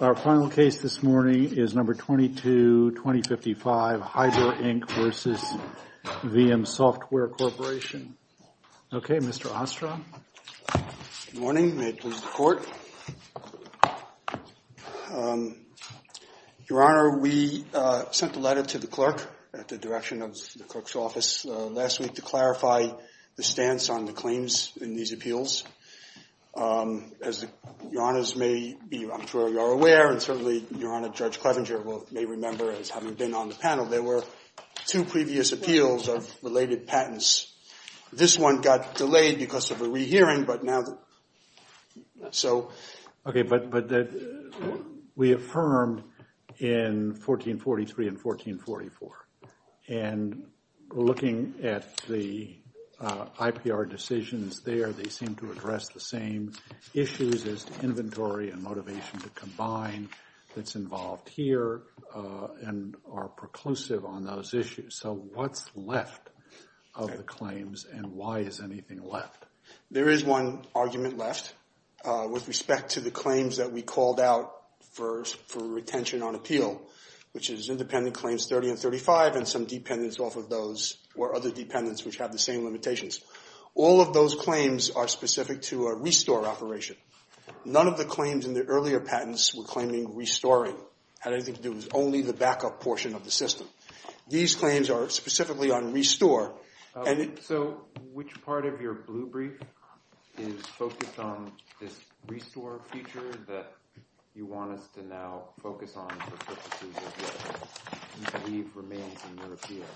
Our final case this morning is No. 22-2055, Hydra, Inc. v. Veeam Software Corporation. Okay, Mr. Ostra. Good morning. May it please the Court. Your Honor, we sent a letter to the clerk at the direction of the clerk's office last week to clarify the stance on the claims in these appeals. As Your Honors may be, I'm sure you are aware, and certainly Your Honor, Judge Clevenger may remember as having been on the panel, there were two previous appeals of related patents. This one got delayed because of a re-hearing, but now, so... They were reaffirmed in 1443 and 1444. And looking at the IPR decisions there, they seem to address the same issues as to inventory and motivation to combine that's involved here and are preclusive on those issues. So what's left of the claims, and why is anything left? There is one argument left with respect to the claims that we called out for retention on appeal, which is independent claims 30 and 35 and some dependents off of those or other dependents which have the same limitations. All of those claims are specific to a restore operation. None of the claims in the earlier patents we're claiming restoring had anything to do with only the backup portion of the system. These claims are specifically on restore. So which part of your blue brief is focused on this restore feature that you want us to now focus on for purposes of what you believe remains in your appeal?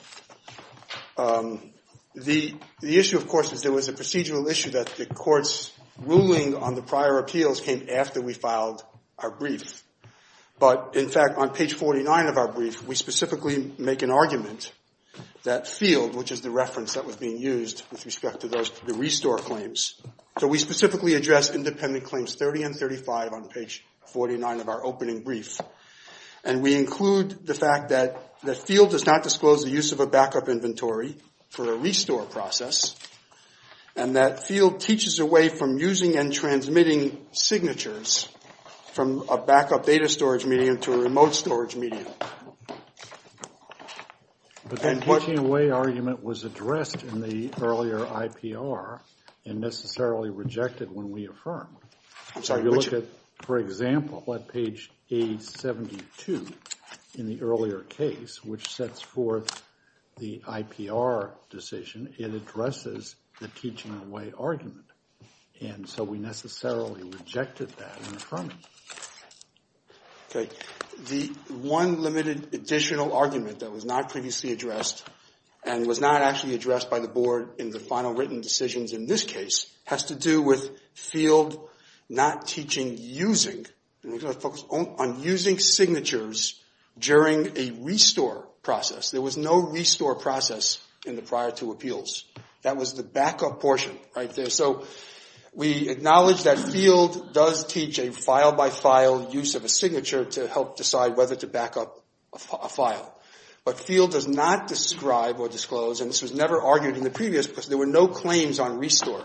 The issue, of course, is there was a procedural issue that the court's ruling on the prior appeals came after we filed our brief. But, in fact, on page 49 of our brief, we specifically make an argument that field, which is the reference that was being used with respect to the restore claims. So we specifically address independent claims 30 and 35 on page 49 of our opening brief. And we include the fact that the field does not disclose the use of a backup inventory for a restore process. And that field teaches away from using and transmitting signatures from a backup data storage medium to a remote storage medium. But that teaching away argument was addressed in the earlier IPR and necessarily rejected when we affirmed. I'm sorry. If you look at, for example, at page 872 in the earlier case, which sets forth the IPR decision, it addresses the teaching away argument. And so we necessarily rejected that in affirming. Okay. The one limited additional argument that was not previously addressed and was not actually addressed by the board in the final written decisions in this case, has to do with field not teaching using. And we're going to focus on using signatures during a restore process. There was no restore process in the prior two appeals. That was the backup portion right there. And so we acknowledge that field does teach a file-by-file use of a signature to help decide whether to backup a file. But field does not describe or disclose, and this was never argued in the previous, because there were no claims on restore.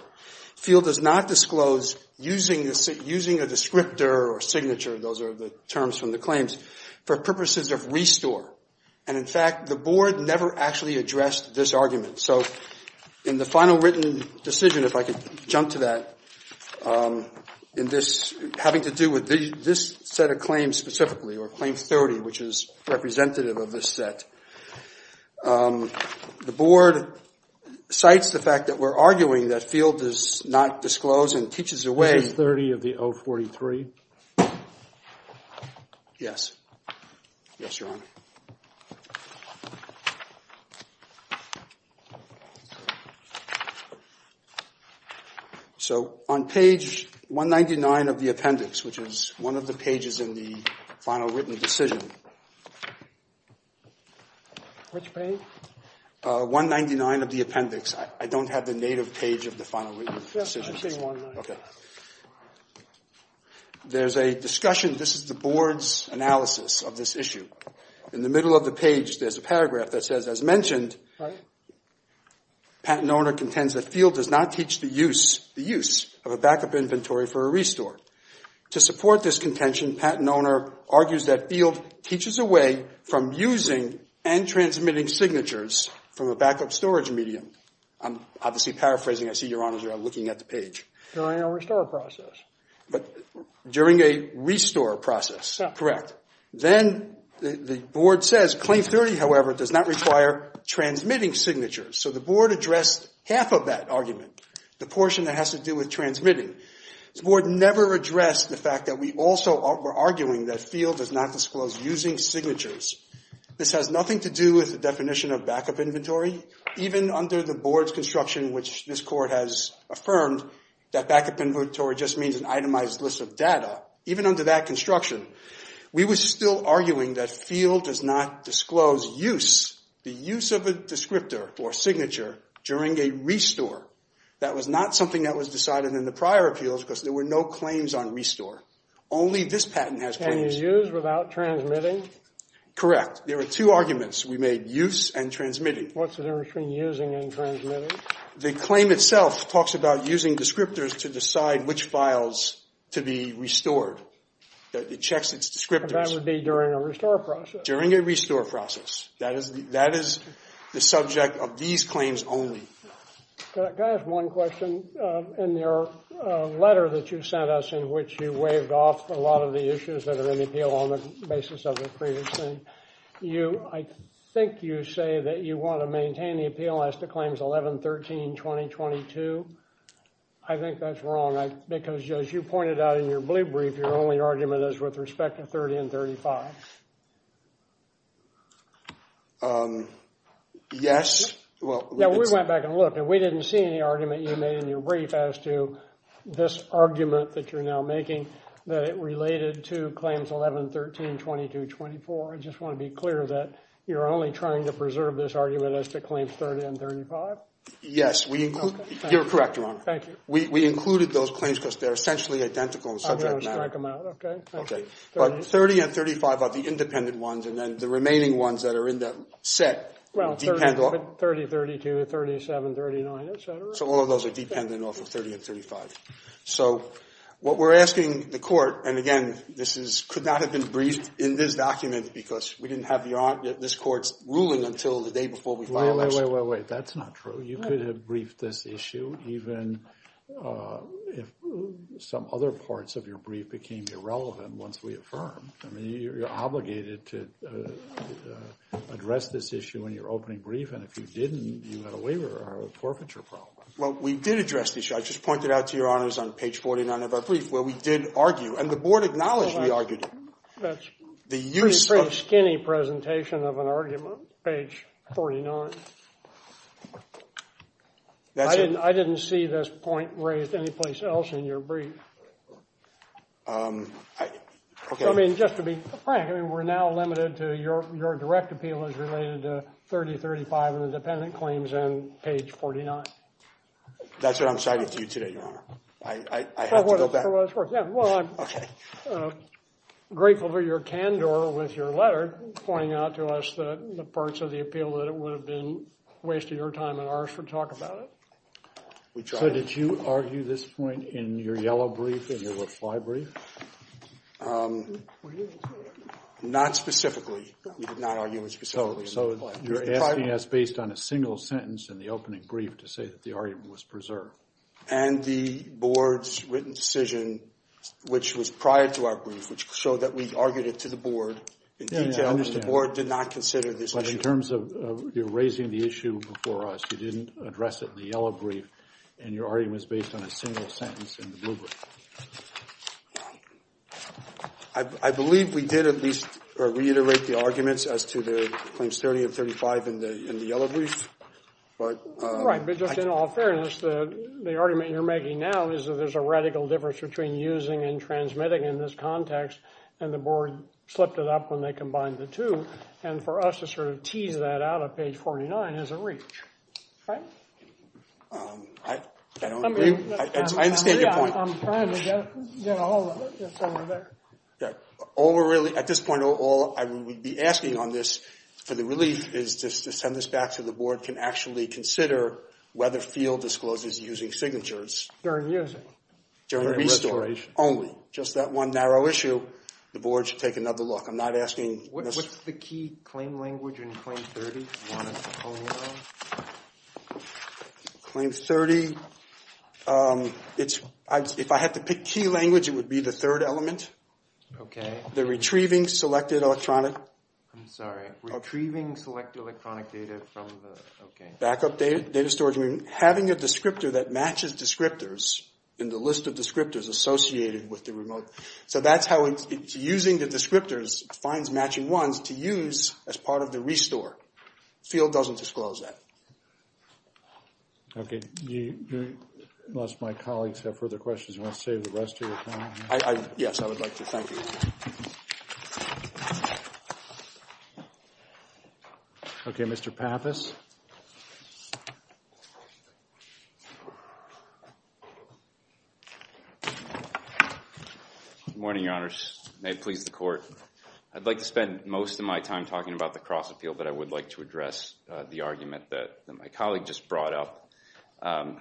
Field does not disclose using a descriptor or signature, those are the terms from the claims, for purposes of restore. And in fact, the board never actually addressed this argument. So in the final written decision, if I could jump to that, having to do with this set of claims specifically, or claim 30, which is representative of this set. The board cites the fact that we're arguing that field does not disclose and teaches away. This is 30 of the 043? Yes. Yes, Your Honor. So on page 199 of the appendix, which is one of the pages in the final written decision. Which page? 199 of the appendix. I don't have the native page of the final written decision. Yes, I see 199. Okay. There's a discussion, this is the board's analysis of this issue. In the middle of the page, there's a paragraph that says, as mentioned, Patent owner contends that field does not teach the use of a backup inventory for a restore. To support this contention, patent owner argues that field teaches away from using and transmitting signatures from a backup storage medium. I'm obviously paraphrasing, I see Your Honors are looking at the page. During a restore process. During a restore process, correct. Then the board says claim 30, however, does not require transmitting signatures. So the board addressed half of that argument. The portion that has to do with transmitting. The board never addressed the fact that we also were arguing that field does not disclose using signatures. This has nothing to do with the definition of backup inventory. Even under the board's construction, which this court has affirmed, that backup inventory just means an itemized list of data. Even under that construction, we were still arguing that field does not disclose use. The use of a descriptor or signature during a restore. That was not something that was decided in the prior appeals because there were no claims on restore. Only this patent has claims. Can you use without transmitting? Correct. There are two arguments. What's the difference between using and transmitting? The claim itself talks about using descriptors to decide which files to be restored. It checks its descriptors. That would be during a restore process. During a restore process. That is the subject of these claims only. Can I ask one question? In your letter that you sent us in which you waved off a lot of the issues that are in the appeal on the basis of the previous thing, I think you say that you want to maintain the appeal as to claims 11, 13, 20, 22. I think that's wrong. Because as you pointed out in your blue brief, your only argument is with respect to 30 and 35. We went back and looked and we didn't see any argument you made in your brief as to this argument that you're now making that it related to claims 11, 13, 22, 24. I just want to be clear that you're only trying to preserve this argument as to claims 30 and 35? Yes. You're correct, Your Honor. Thank you. We included those claims because they're essentially identical in subject matter. I'm going to strike them out, okay? Okay. But 30 and 35 are the independent ones and then the remaining ones that are in that set depend on Well, 30, 32, 37, 39, etc. So all of those are dependent off of 30 and 35. So what we're asking the court, and again, this could not have been briefed in this document because we didn't have this court's ruling until the day before we filed this. Wait, wait, wait, wait. That's not true. You could have briefed this issue even if some other parts of your brief became irrelevant once we affirmed. I mean, you're obligated to address this issue in your opening brief, and if you didn't, you had a waiver or a forfeiture problem. Well, we did address the issue. I just pointed out to Your Honors on page 49 of our brief where we did argue, and the board acknowledged we argued it. That's a pretty skinny presentation of an argument, page 49. I didn't see this point raised anyplace else in your brief. I mean, just to be frank, we're now limited to your direct appeal is related to 30, 35, and the dependent claims on page 49. That's what I'm citing to you today, Your Honor. I have to go back. For what it's worth, yeah. Well, I'm grateful for your candor with your letter pointing out to us the parts of the appeal that it would have been a waste of your time and ours for talk about it. So did you argue this point in your yellow brief, in your reply brief? Not specifically. We did not argue it specifically. So you're asking us based on a single sentence in the opening brief to say that the argument was preserved. And the board's written decision, which was prior to our brief, which showed that we argued it to the board in detail. The board did not consider this issue. But in terms of you raising the issue before us, you didn't address it in the yellow brief, and your argument was based on a single sentence in the blue brief. I believe we did at least reiterate the arguments as to the claims 30 and 35 in the yellow brief. Right. But just in all fairness, the argument you're making now is that there's a radical difference between using and transmitting in this context, and the board slipped it up when they combined the two. And for us to sort of tease that out of page 49 is a reach. Right? I don't agree. I understand your point. I'm trying to get a hold of it. It's over there. At this point, all I would be asking on this for the relief is to send this back to the board, can actually consider whether FIELD discloses using signatures. During using. During restoration. Only. Just that one narrow issue. The board should take another look. I'm not asking this. What's the key claim language in claim 30? Claim 30. If I had to pick key language, it would be the third element. Okay. The retrieving selected electronic. I'm sorry. Retrieving selected electronic data from the. Backup data storage. Having a descriptor that matches descriptors in the list of descriptors associated with the remote. So that's how it's using the descriptors. Finds matching ones to use as part of the restore. FIELD doesn't disclose that. Okay. Unless my colleagues have further questions, you want to save the rest of your time? Yes, I would like to. Thank you. Okay. Mr. Pappas. Morning, Your Honor. May it please the court. I'd like to spend most of my time talking about the cross appeal, but I would like to address the argument that my colleague just brought up.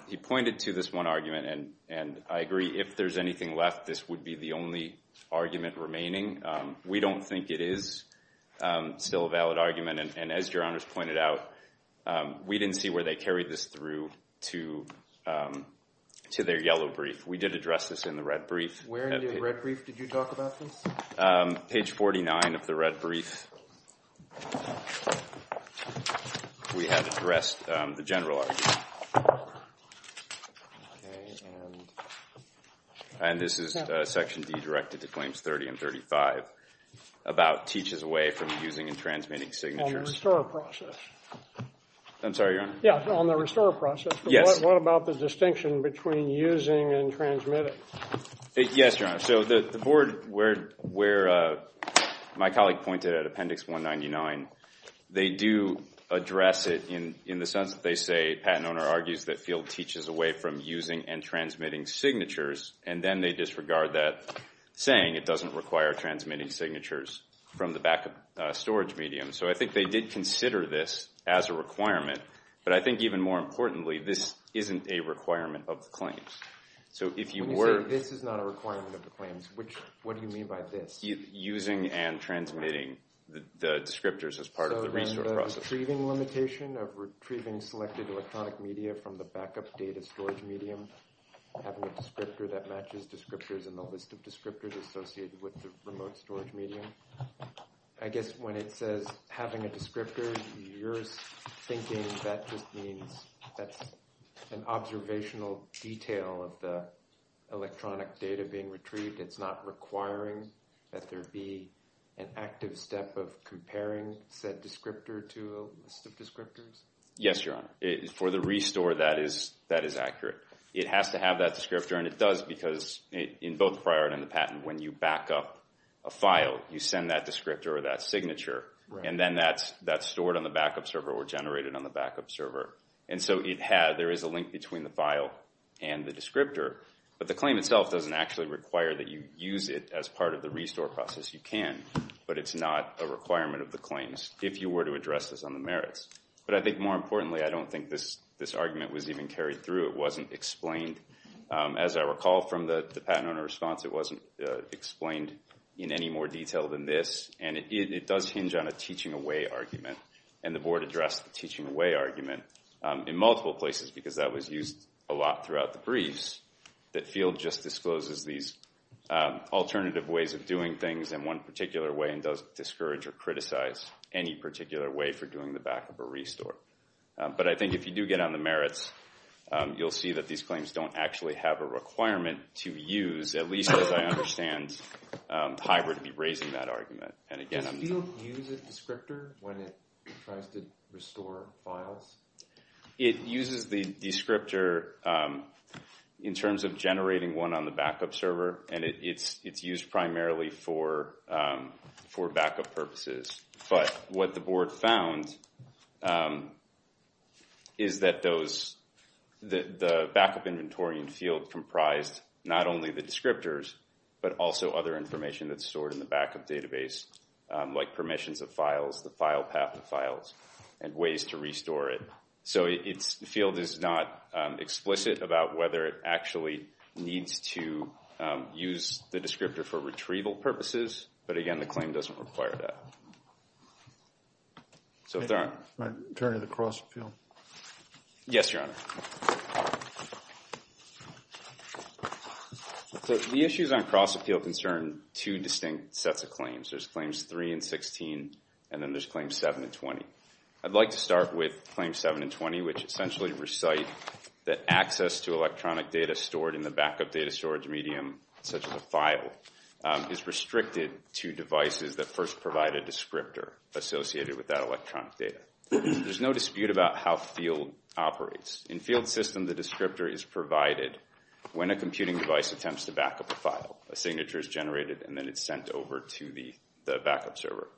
He pointed to this one argument, and I agree. If there's anything left, this would be the only argument remaining. We don't think it is still a valid argument. And as Your Honor's pointed out, we didn't see where they carried this through to their yellow brief. We did address this in the red brief. Where in the red brief did you talk about this? Page 49 of the red brief. We have addressed the general argument. And this is section D directed to claims 30 and 35 about teaches away from using and transmitting signatures. On the restore process. I'm sorry, Your Honor. Yeah, on the restore process. Yes. What about the distinction between using and transmitting? Yes, Your Honor. So the board where my colleague pointed at Appendix 199, they do address it in the sense that they say, Patent Owner argues that field teaches away from using and transmitting signatures. And then they disregard that saying it doesn't require transmitting signatures from the backup storage medium. So I think they did consider this as a requirement. But I think even more importantly, this isn't a requirement of the claims. This is not a requirement of the claims. What do you mean by this? Using and transmitting the descriptors as part of the restore process. So the retrieving limitation of retrieving selected electronic media from the backup data storage medium, having a descriptor that matches descriptors in the list of descriptors associated with the remote storage medium. I guess when it says having a descriptor, you're thinking that just means that's an observational detail of the electronic data being retrieved. It's not requiring that there be an active step of comparing said descriptor to a list of descriptors? Yes, Your Honor. For the restore, that is accurate. It has to have that descriptor, and it does because in both the prior and the patent, when you back up a file, you send that descriptor or that signature. And then that's stored on the backup server or generated on the backup server. And so there is a link between the file and the descriptor. But the claim itself doesn't actually require that you use it as part of the restore process. You can, but it's not a requirement of the claims if you were to address this on the merits. But I think more importantly, I don't think this argument was even carried through. It wasn't explained. As I recall from the patent owner response, it wasn't explained in any more detail than this. And it does hinge on a teaching away argument. And the Board addressed the teaching away argument in multiple places because that was used a lot throughout the briefs. That field just discloses these alternative ways of doing things in one particular way and doesn't discourage or criticize any particular way for doing the backup or restore. But I think if you do get on the merits, you'll see that these claims don't actually have a requirement to use, at least as I understand, HYBRD be raising that argument. And again, I'm not. Does the field use a descriptor when it tries to restore files? It uses the descriptor in terms of generating one on the backup server. And it's used primarily for backup purposes. But what the Board found is that the backup inventory and field comprised not only the descriptors, but also other information that's stored in the backup database, like permissions of files, the file path of files, and ways to restore it. So the field is not explicit about whether it actually needs to use the descriptor for retrieval purposes. But again, the claim doesn't require that. My turn to the cross-appeal. Yes, Your Honor. The issues on cross-appeal concern two distinct sets of claims. There's Claims 3 and 16, and then there's Claims 7 and 20. I'd like to start with Claims 7 and 20, which essentially recite that access to electronic data stored in the backup data storage medium, such as a file, is restricted to devices that first provide a descriptor associated with that electronic data. There's no dispute about how field operates. In field system, the descriptor is provided when a computing device attempts to backup a file. A signature is generated, and then it's sent over to the backup server.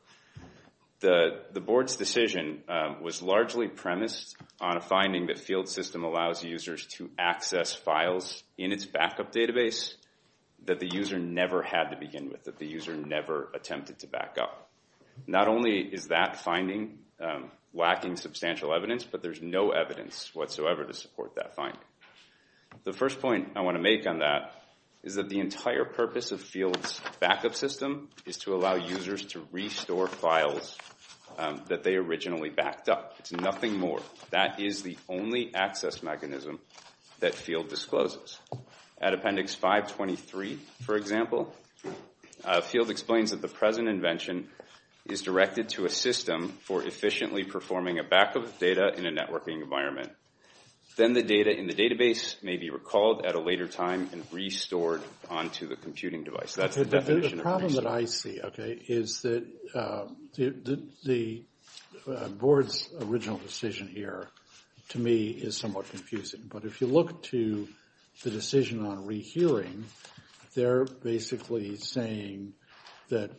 The board's decision was largely premised on a finding that field system allows users to access files in its backup database that the user never had to begin with, that the user never attempted to backup. Not only is that finding lacking substantial evidence, but there's no evidence whatsoever to support that finding. The first point I want to make on that is that the entire purpose of field's backup system is to allow users to restore files that they originally backed up. It's nothing more. That is the only access mechanism that field discloses. At Appendix 523, for example, field explains that the present invention is directed to a system for efficiently performing a backup of data in a networking environment. Then the data in the database may be recalled at a later time and restored onto the computing device. That's the definition of restoring. The problem that I see, okay, is that the board's original decision here, to me, is somewhat confusing. But if you look to the decision on rehearing, they're basically saying that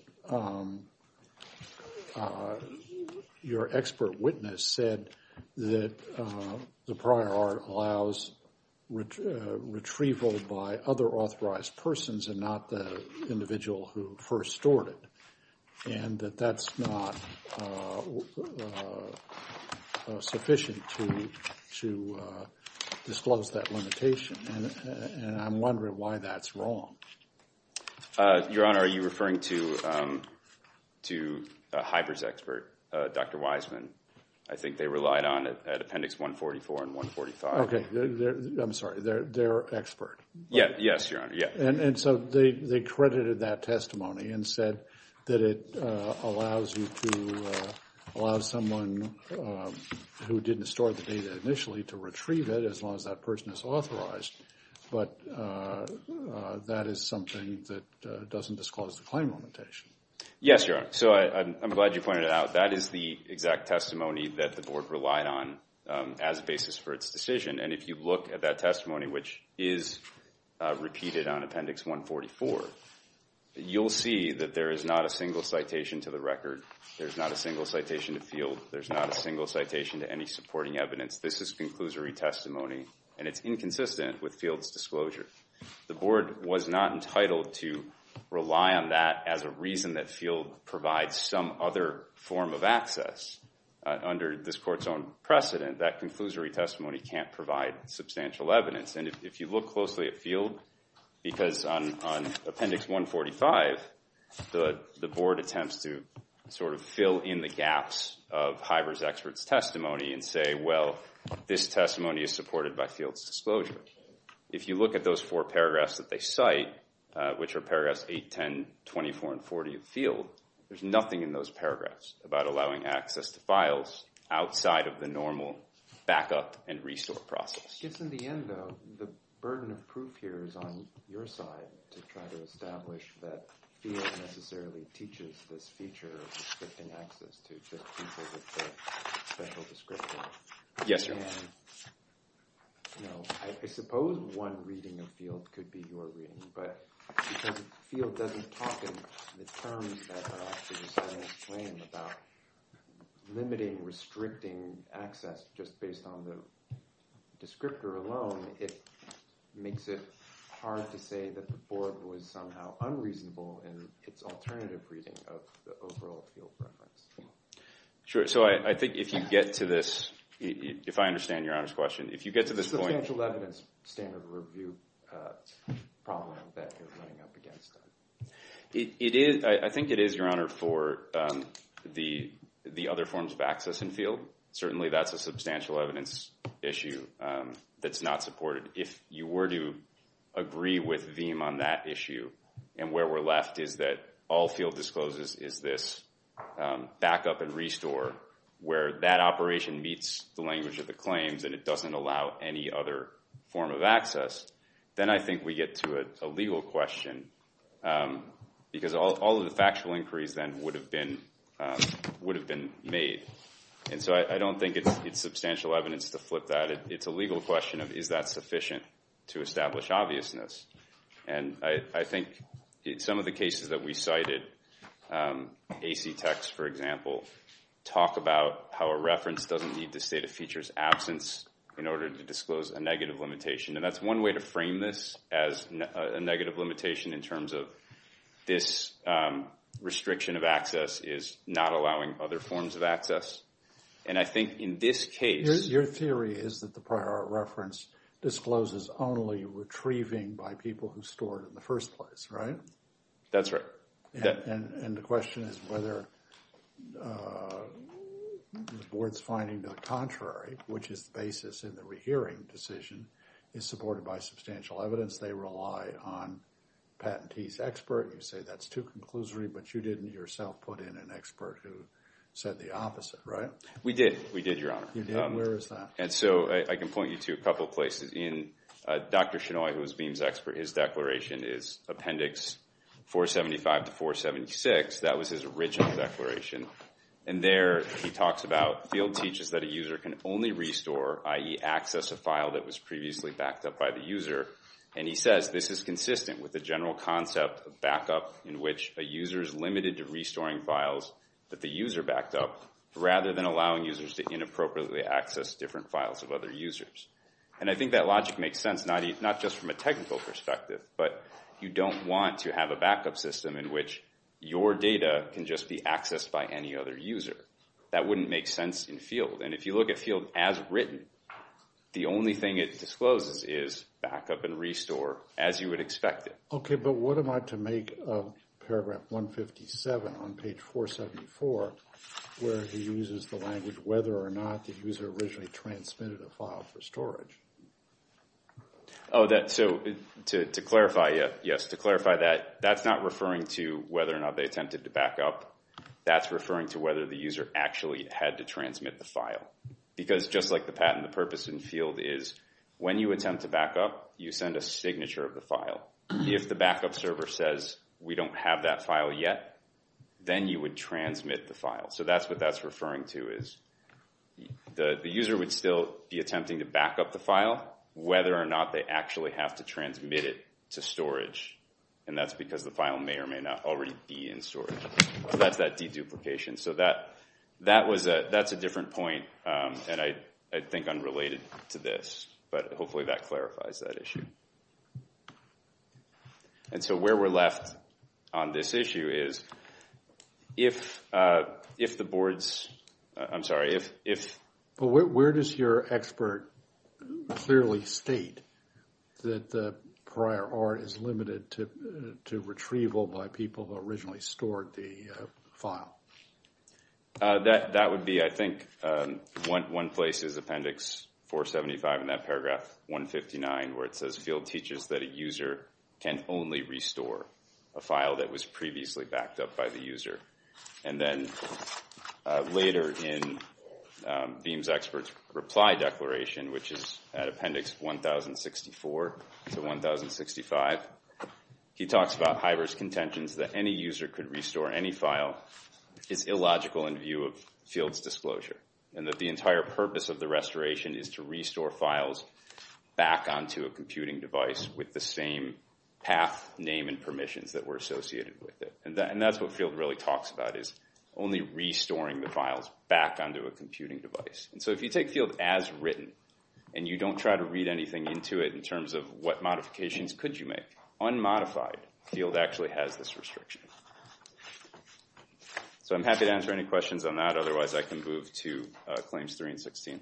your expert witness said that the prior art allows retrieval by other authorized persons and not the individual who first stored it. And that that's not sufficient to disclose that limitation. And I'm wondering why that's wrong. Your Honor, are you referring to Hiber's expert, Dr. Wiseman? I think they relied on it at Appendix 144 and 145. Okay. Their expert. Yes, Your Honor. And so they credited that testimony and said that it allows you to allow someone who didn't store the data initially to retrieve it as long as that person is authorized. But that is something that doesn't disclose the claim limitation. Yes, Your Honor. So I'm glad you pointed it out. That is the exact testimony that the board relied on as a basis for its decision. And if you look at that testimony, which is repeated on Appendix 144, you'll see that there is not a single citation to the record. There's not a single citation to Field. There's not a single citation to any supporting evidence. This is conclusory testimony, and it's inconsistent with Field's disclosure. The board was not entitled to rely on that as a reason that Field provides some other form of access under this court's own precedent. That conclusory testimony can't provide substantial evidence. And if you look closely at Field, because on Appendix 145, the board attempts to sort of fill in the gaps of Hiber's expert's testimony and say, well, this testimony is supported by Field's disclosure. If you look at those four paragraphs that they cite, which are paragraphs 8, 10, 24, and 40 of Field, there's nothing in those paragraphs about allowing access to files outside of the normal backup and restore process. I guess in the end, though, the burden of proof here is on your side to try to establish that Field necessarily teaches this feature of restricting access to people with special description. Yes, Your Honor. I suppose one reading of Field could be your reading, but because Field doesn't talk in the terms that are actually decided in this claim about limiting, restricting access just based on the descriptor alone, it makes it hard to say that the board was somehow unreasonable in its alternative reading of the overall Field preference. Sure. So I think if you get to this, if I understand Your Honor's question, if you get to this point- Substantial evidence standard review problem that you're running up against. I think it is, Your Honor, for the other forms of access in Field. Certainly, that's a substantial evidence issue that's not supported. If you were to agree with Veeam on that issue and where we're left is that all Field discloses is this backup and restore where that operation meets the language of the claims and it doesn't allow any other form of access, then I think we get to a legal question because all of the factual inquiries then would have been made. And so I don't think it's substantial evidence to flip that. It's a legal question of is that sufficient to establish obviousness. And I think some of the cases that we cited, AC Techs, for example, talk about how a reference doesn't need to state a feature's absence in order to disclose a negative limitation. And that's one way to frame this as a negative limitation in terms of this restriction of access is not allowing other forms of access. And I think in this case- Where a reference discloses only retrieving by people who stored in the first place, right? That's right. And the question is whether the board's finding the contrary, which is the basis in the rehearing decision, is supported by substantial evidence. They rely on patentees expert. You say that's too conclusory, but you didn't yourself put in an expert who said the opposite, right? We did. We did, Your Honor. You did? Where is that? And so I can point you to a couple places. In Dr. Shinoy, who is BEAM's expert, his declaration is Appendix 475 to 476. That was his original declaration. And there he talks about field teaches that a user can only restore, i.e., access a file that was previously backed up by the user. And he says this is consistent with the general concept of backup in which a user is limited to restoring files that the user backed up rather than allowing users to inappropriately access different files of other users. And I think that logic makes sense, not just from a technical perspective, but you don't want to have a backup system in which your data can just be accessed by any other user. That wouldn't make sense in field. And if you look at field as written, the only thing it discloses is backup and restore as you would expect it. Okay, but what am I to make of paragraph 157 on page 474 where he uses the language whether or not the user originally transmitted a file for storage? Oh, so to clarify, yes. To clarify that, that's not referring to whether or not they attempted to backup. That's referring to whether the user actually had to transmit the file. Because just like the patent, the purpose in field is when you attempt to backup, you send a signature of the file. If the backup server says we don't have that file yet, then you would transmit the file. So that's what that's referring to is the user would still be attempting to backup the file whether or not they actually have to transmit it to storage. And that's because the file may or may not already be in storage. So that's that deduplication. So that's a different point, and I think unrelated to this, but hopefully that clarifies that issue. And so where we're left on this issue is if the boards, I'm sorry, if... But where does your expert clearly state that the prior art is limited to retrieval by people who originally stored the file? That would be, I think, one place is Appendix 475 in that paragraph 159 where it says, Field teaches that a user can only restore a file that was previously backed up by the user. And then later in BEAM's expert's reply declaration, which is at Appendix 1064 to 1065, he talks about Hiver's contentions that any user could restore any file is illogical in view of Field's disclosure, and that the entire purpose of the restoration is to restore files back onto a computing device with the same path, name, and permissions that were associated with it. And that's what Field really talks about is only restoring the files back onto a computing device. And so if you take Field as written and you don't try to read anything into it in terms of what modifications could you make, unmodified, Field actually has this restriction. So I'm happy to answer any questions on that, otherwise I can move to Claims 3 and 16.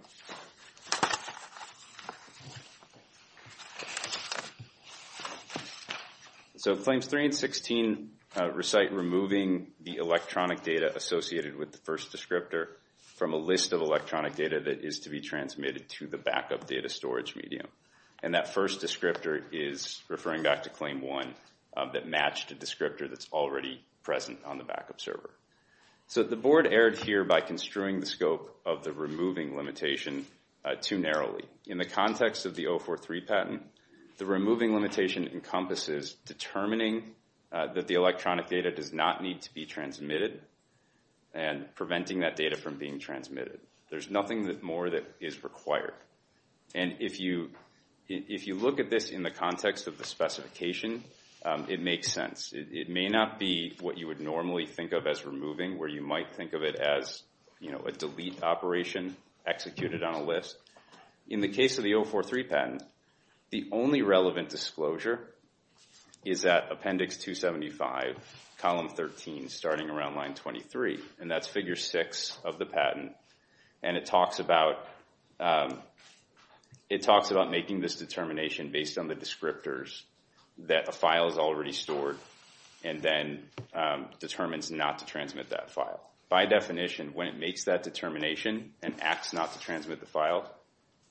So Claims 3 and 16 recite removing the electronic data associated with the first descriptor from a list of electronic data that is to be transmitted to the backup data storage medium. And that first descriptor is referring back to Claim 1 that matched a descriptor that's already present on the backup server. So the board erred here by construing the scope of the removing limitation too narrowly. In the context of the 043 patent, the removing limitation encompasses determining that the electronic data does not need to be transmitted and preventing that data from being transmitted. There's nothing more that is required. And if you look at this in the context of the specification, it makes sense. It may not be what you would normally think of as removing, where you might think of it as a delete operation executed on a list. In the case of the 043 patent, the only relevant disclosure is at Appendix 275, Column 13, starting around Line 23. And that's Figure 6 of the patent. And it talks about making this determination based on the descriptors that a file is already stored and then determines not to transmit that file. By definition, when it makes that determination and acts not to transmit the file,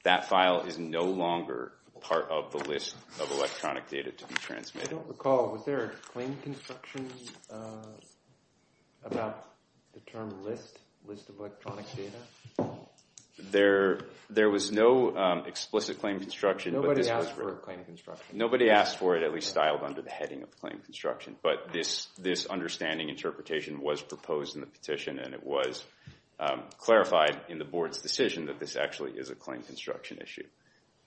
that file is no longer part of the list of electronic data to be transmitted. I don't recall, was there a claim construction about the term list, list of electronic data? There was no explicit claim construction. Nobody asked for a claim construction. Nobody asked for it, at least styled under the heading of claim construction. But this understanding interpretation was proposed in the petition, and it was clarified in the board's decision that this actually is a claim construction issue.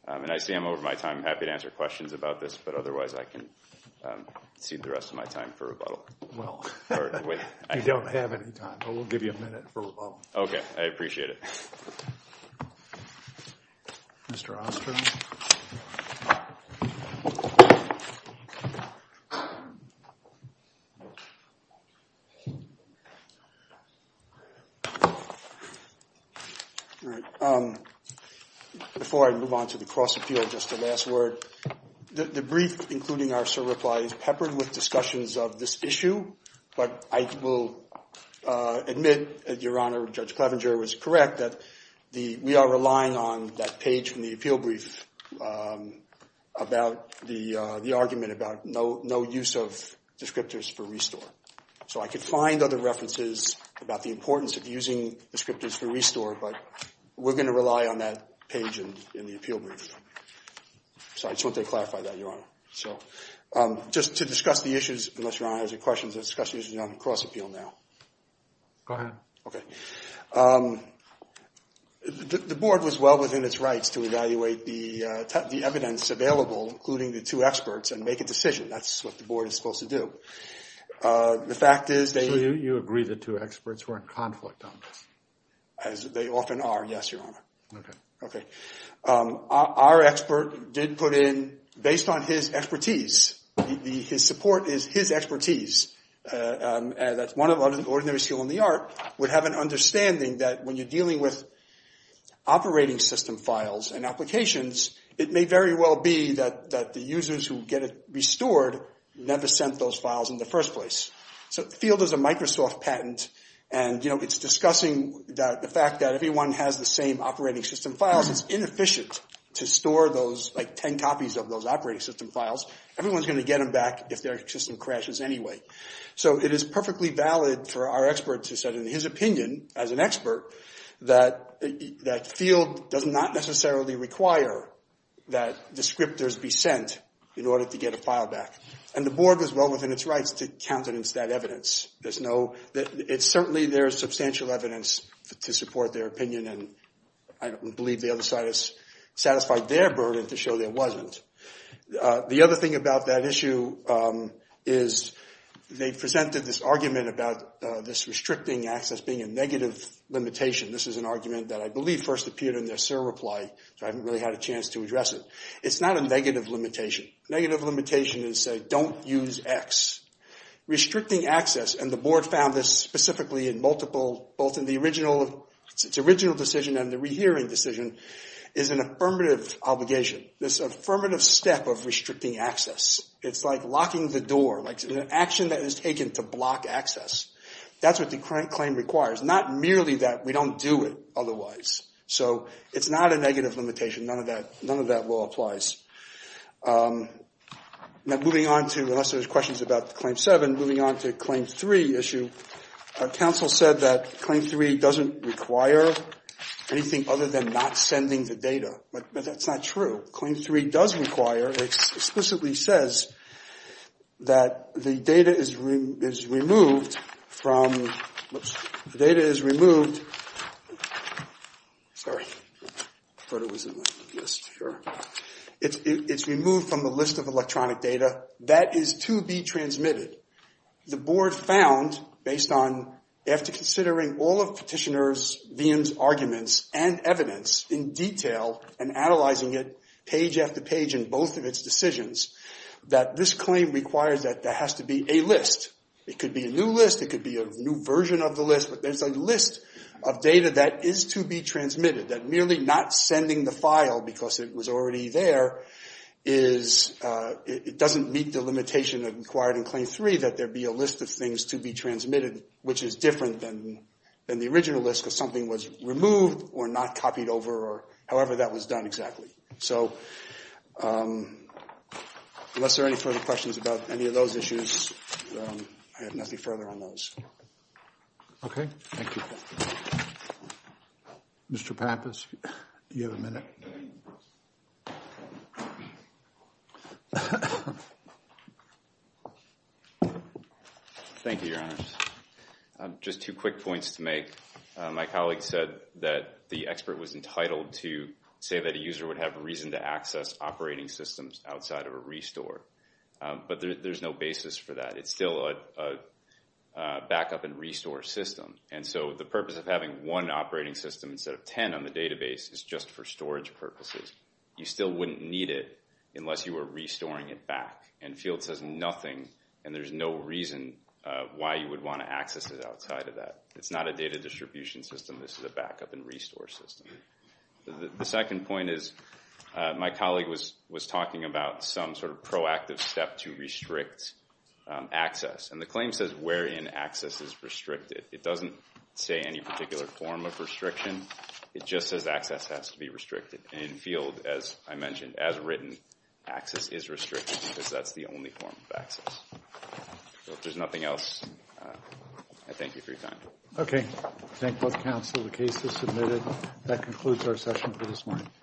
And I see I'm over my time. I'm happy to answer questions about this, but otherwise I can cede the rest of my time for rebuttal. Well, you don't have any time, but we'll give you a minute for rebuttal. Okay, I appreciate it. Mr. Ostrom. Before I move on to the cross-appeal, just a last word. The brief, including our civil reply, is peppered with discussions of this issue. But I will admit, Your Honor, Judge Clevenger was correct that we are relying on that page from the appeal brief about the argument about no use of descriptors for restore. So I could find other references about the importance of using descriptors for restore, but we're going to rely on that page in the appeal brief. So I just want to clarify that, Your Honor. Just to discuss the issues, unless Your Honor has any questions, I'll discuss the issues on the cross-appeal now. Go ahead. Okay. The board was well within its rights to evaluate the evidence available, including the two experts, and make a decision. That's what the board is supposed to do. So you agree the two experts were in conflict on this? As they often are, yes, Your Honor. Okay. Our expert did put in, based on his expertise, his support is his expertise, that's one of the ordinary skill in the art, would have an understanding that when you're dealing with operating system files and applications, it may very well be that the users who get it restored never sent those files in the first place. So FIELD is a Microsoft patent, and it's discussing the fact that everyone has the same operating system files. It's inefficient to store those, like 10 copies of those operating system files. Everyone's going to get them back if their system crashes anyway. So it is perfectly valid for our expert to say, in his opinion, as an expert, that FIELD does not necessarily require that descriptors be sent in order to get a file back. And the board was well within its rights to countenance that evidence. It's certainly there's substantial evidence to support their opinion, and I believe the other side has satisfied their burden to show there wasn't. The other thing about that issue is they presented this argument about this restricting access being a negative limitation. This is an argument that I believe first appeared in their SIR reply, so I haven't really had a chance to address it. It's not a negative limitation. Negative limitation is, say, don't use X. Restricting access, and the board found this specifically in both the original decision and the rehearing decision, is an affirmative obligation, this affirmative step of restricting access. It's like locking the door, like an action that is taken to block access. That's what the current claim requires, not merely that we don't do it otherwise. So it's not a negative limitation. None of that law applies. Now, moving on to, unless there's questions about Claim 7, moving on to Claim 3 issue. Our counsel said that Claim 3 doesn't require anything other than not sending the data, but that's not true. Claim 3 does require, it explicitly says that the data is removed from the list of electronic data that is to be transmitted. The board found, based on, after considering all of Petitioner's, Veeam's arguments and evidence in detail and analyzing it page after page in both of its decisions, that this claim requires that there has to be a list. It could be a new list, it could be a new version of the list, but there's a list of data that is to be transmitted, that merely not sending the file because it was already there is, it doesn't meet the limitation of required in Claim 3 that there be a list of things to be transmitted, which is different than the original list because something was removed or not copied over or however that was done exactly. So unless there are any further questions about any of those issues, I have nothing further on those. Okay, thank you. Mr. Pappas, you have a minute. Thank you, Your Honors. Just two quick points to make. My colleague said that the expert was entitled to say that a user would have reason to access operating systems outside of a restore, but there's no basis for that. It's still a backup and restore system. And so the purpose of having one operating system instead of 10 on the database is just for storage purposes. You still wouldn't need it unless you were restoring it back. And Field says nothing, and there's no reason why you would want to access it outside of that. It's not a data distribution system. This is a backup and restore system. The second point is my colleague was talking about some sort of proactive step to restrict access. And the claim says wherein access is restricted. It doesn't say any particular form of restriction. It just says access has to be restricted. And Field, as I mentioned, as written, access is restricted because that's the only form of access. If there's nothing else, I thank you for your time. Okay. I thank both counsel. The case is submitted. That concludes our session for this morning.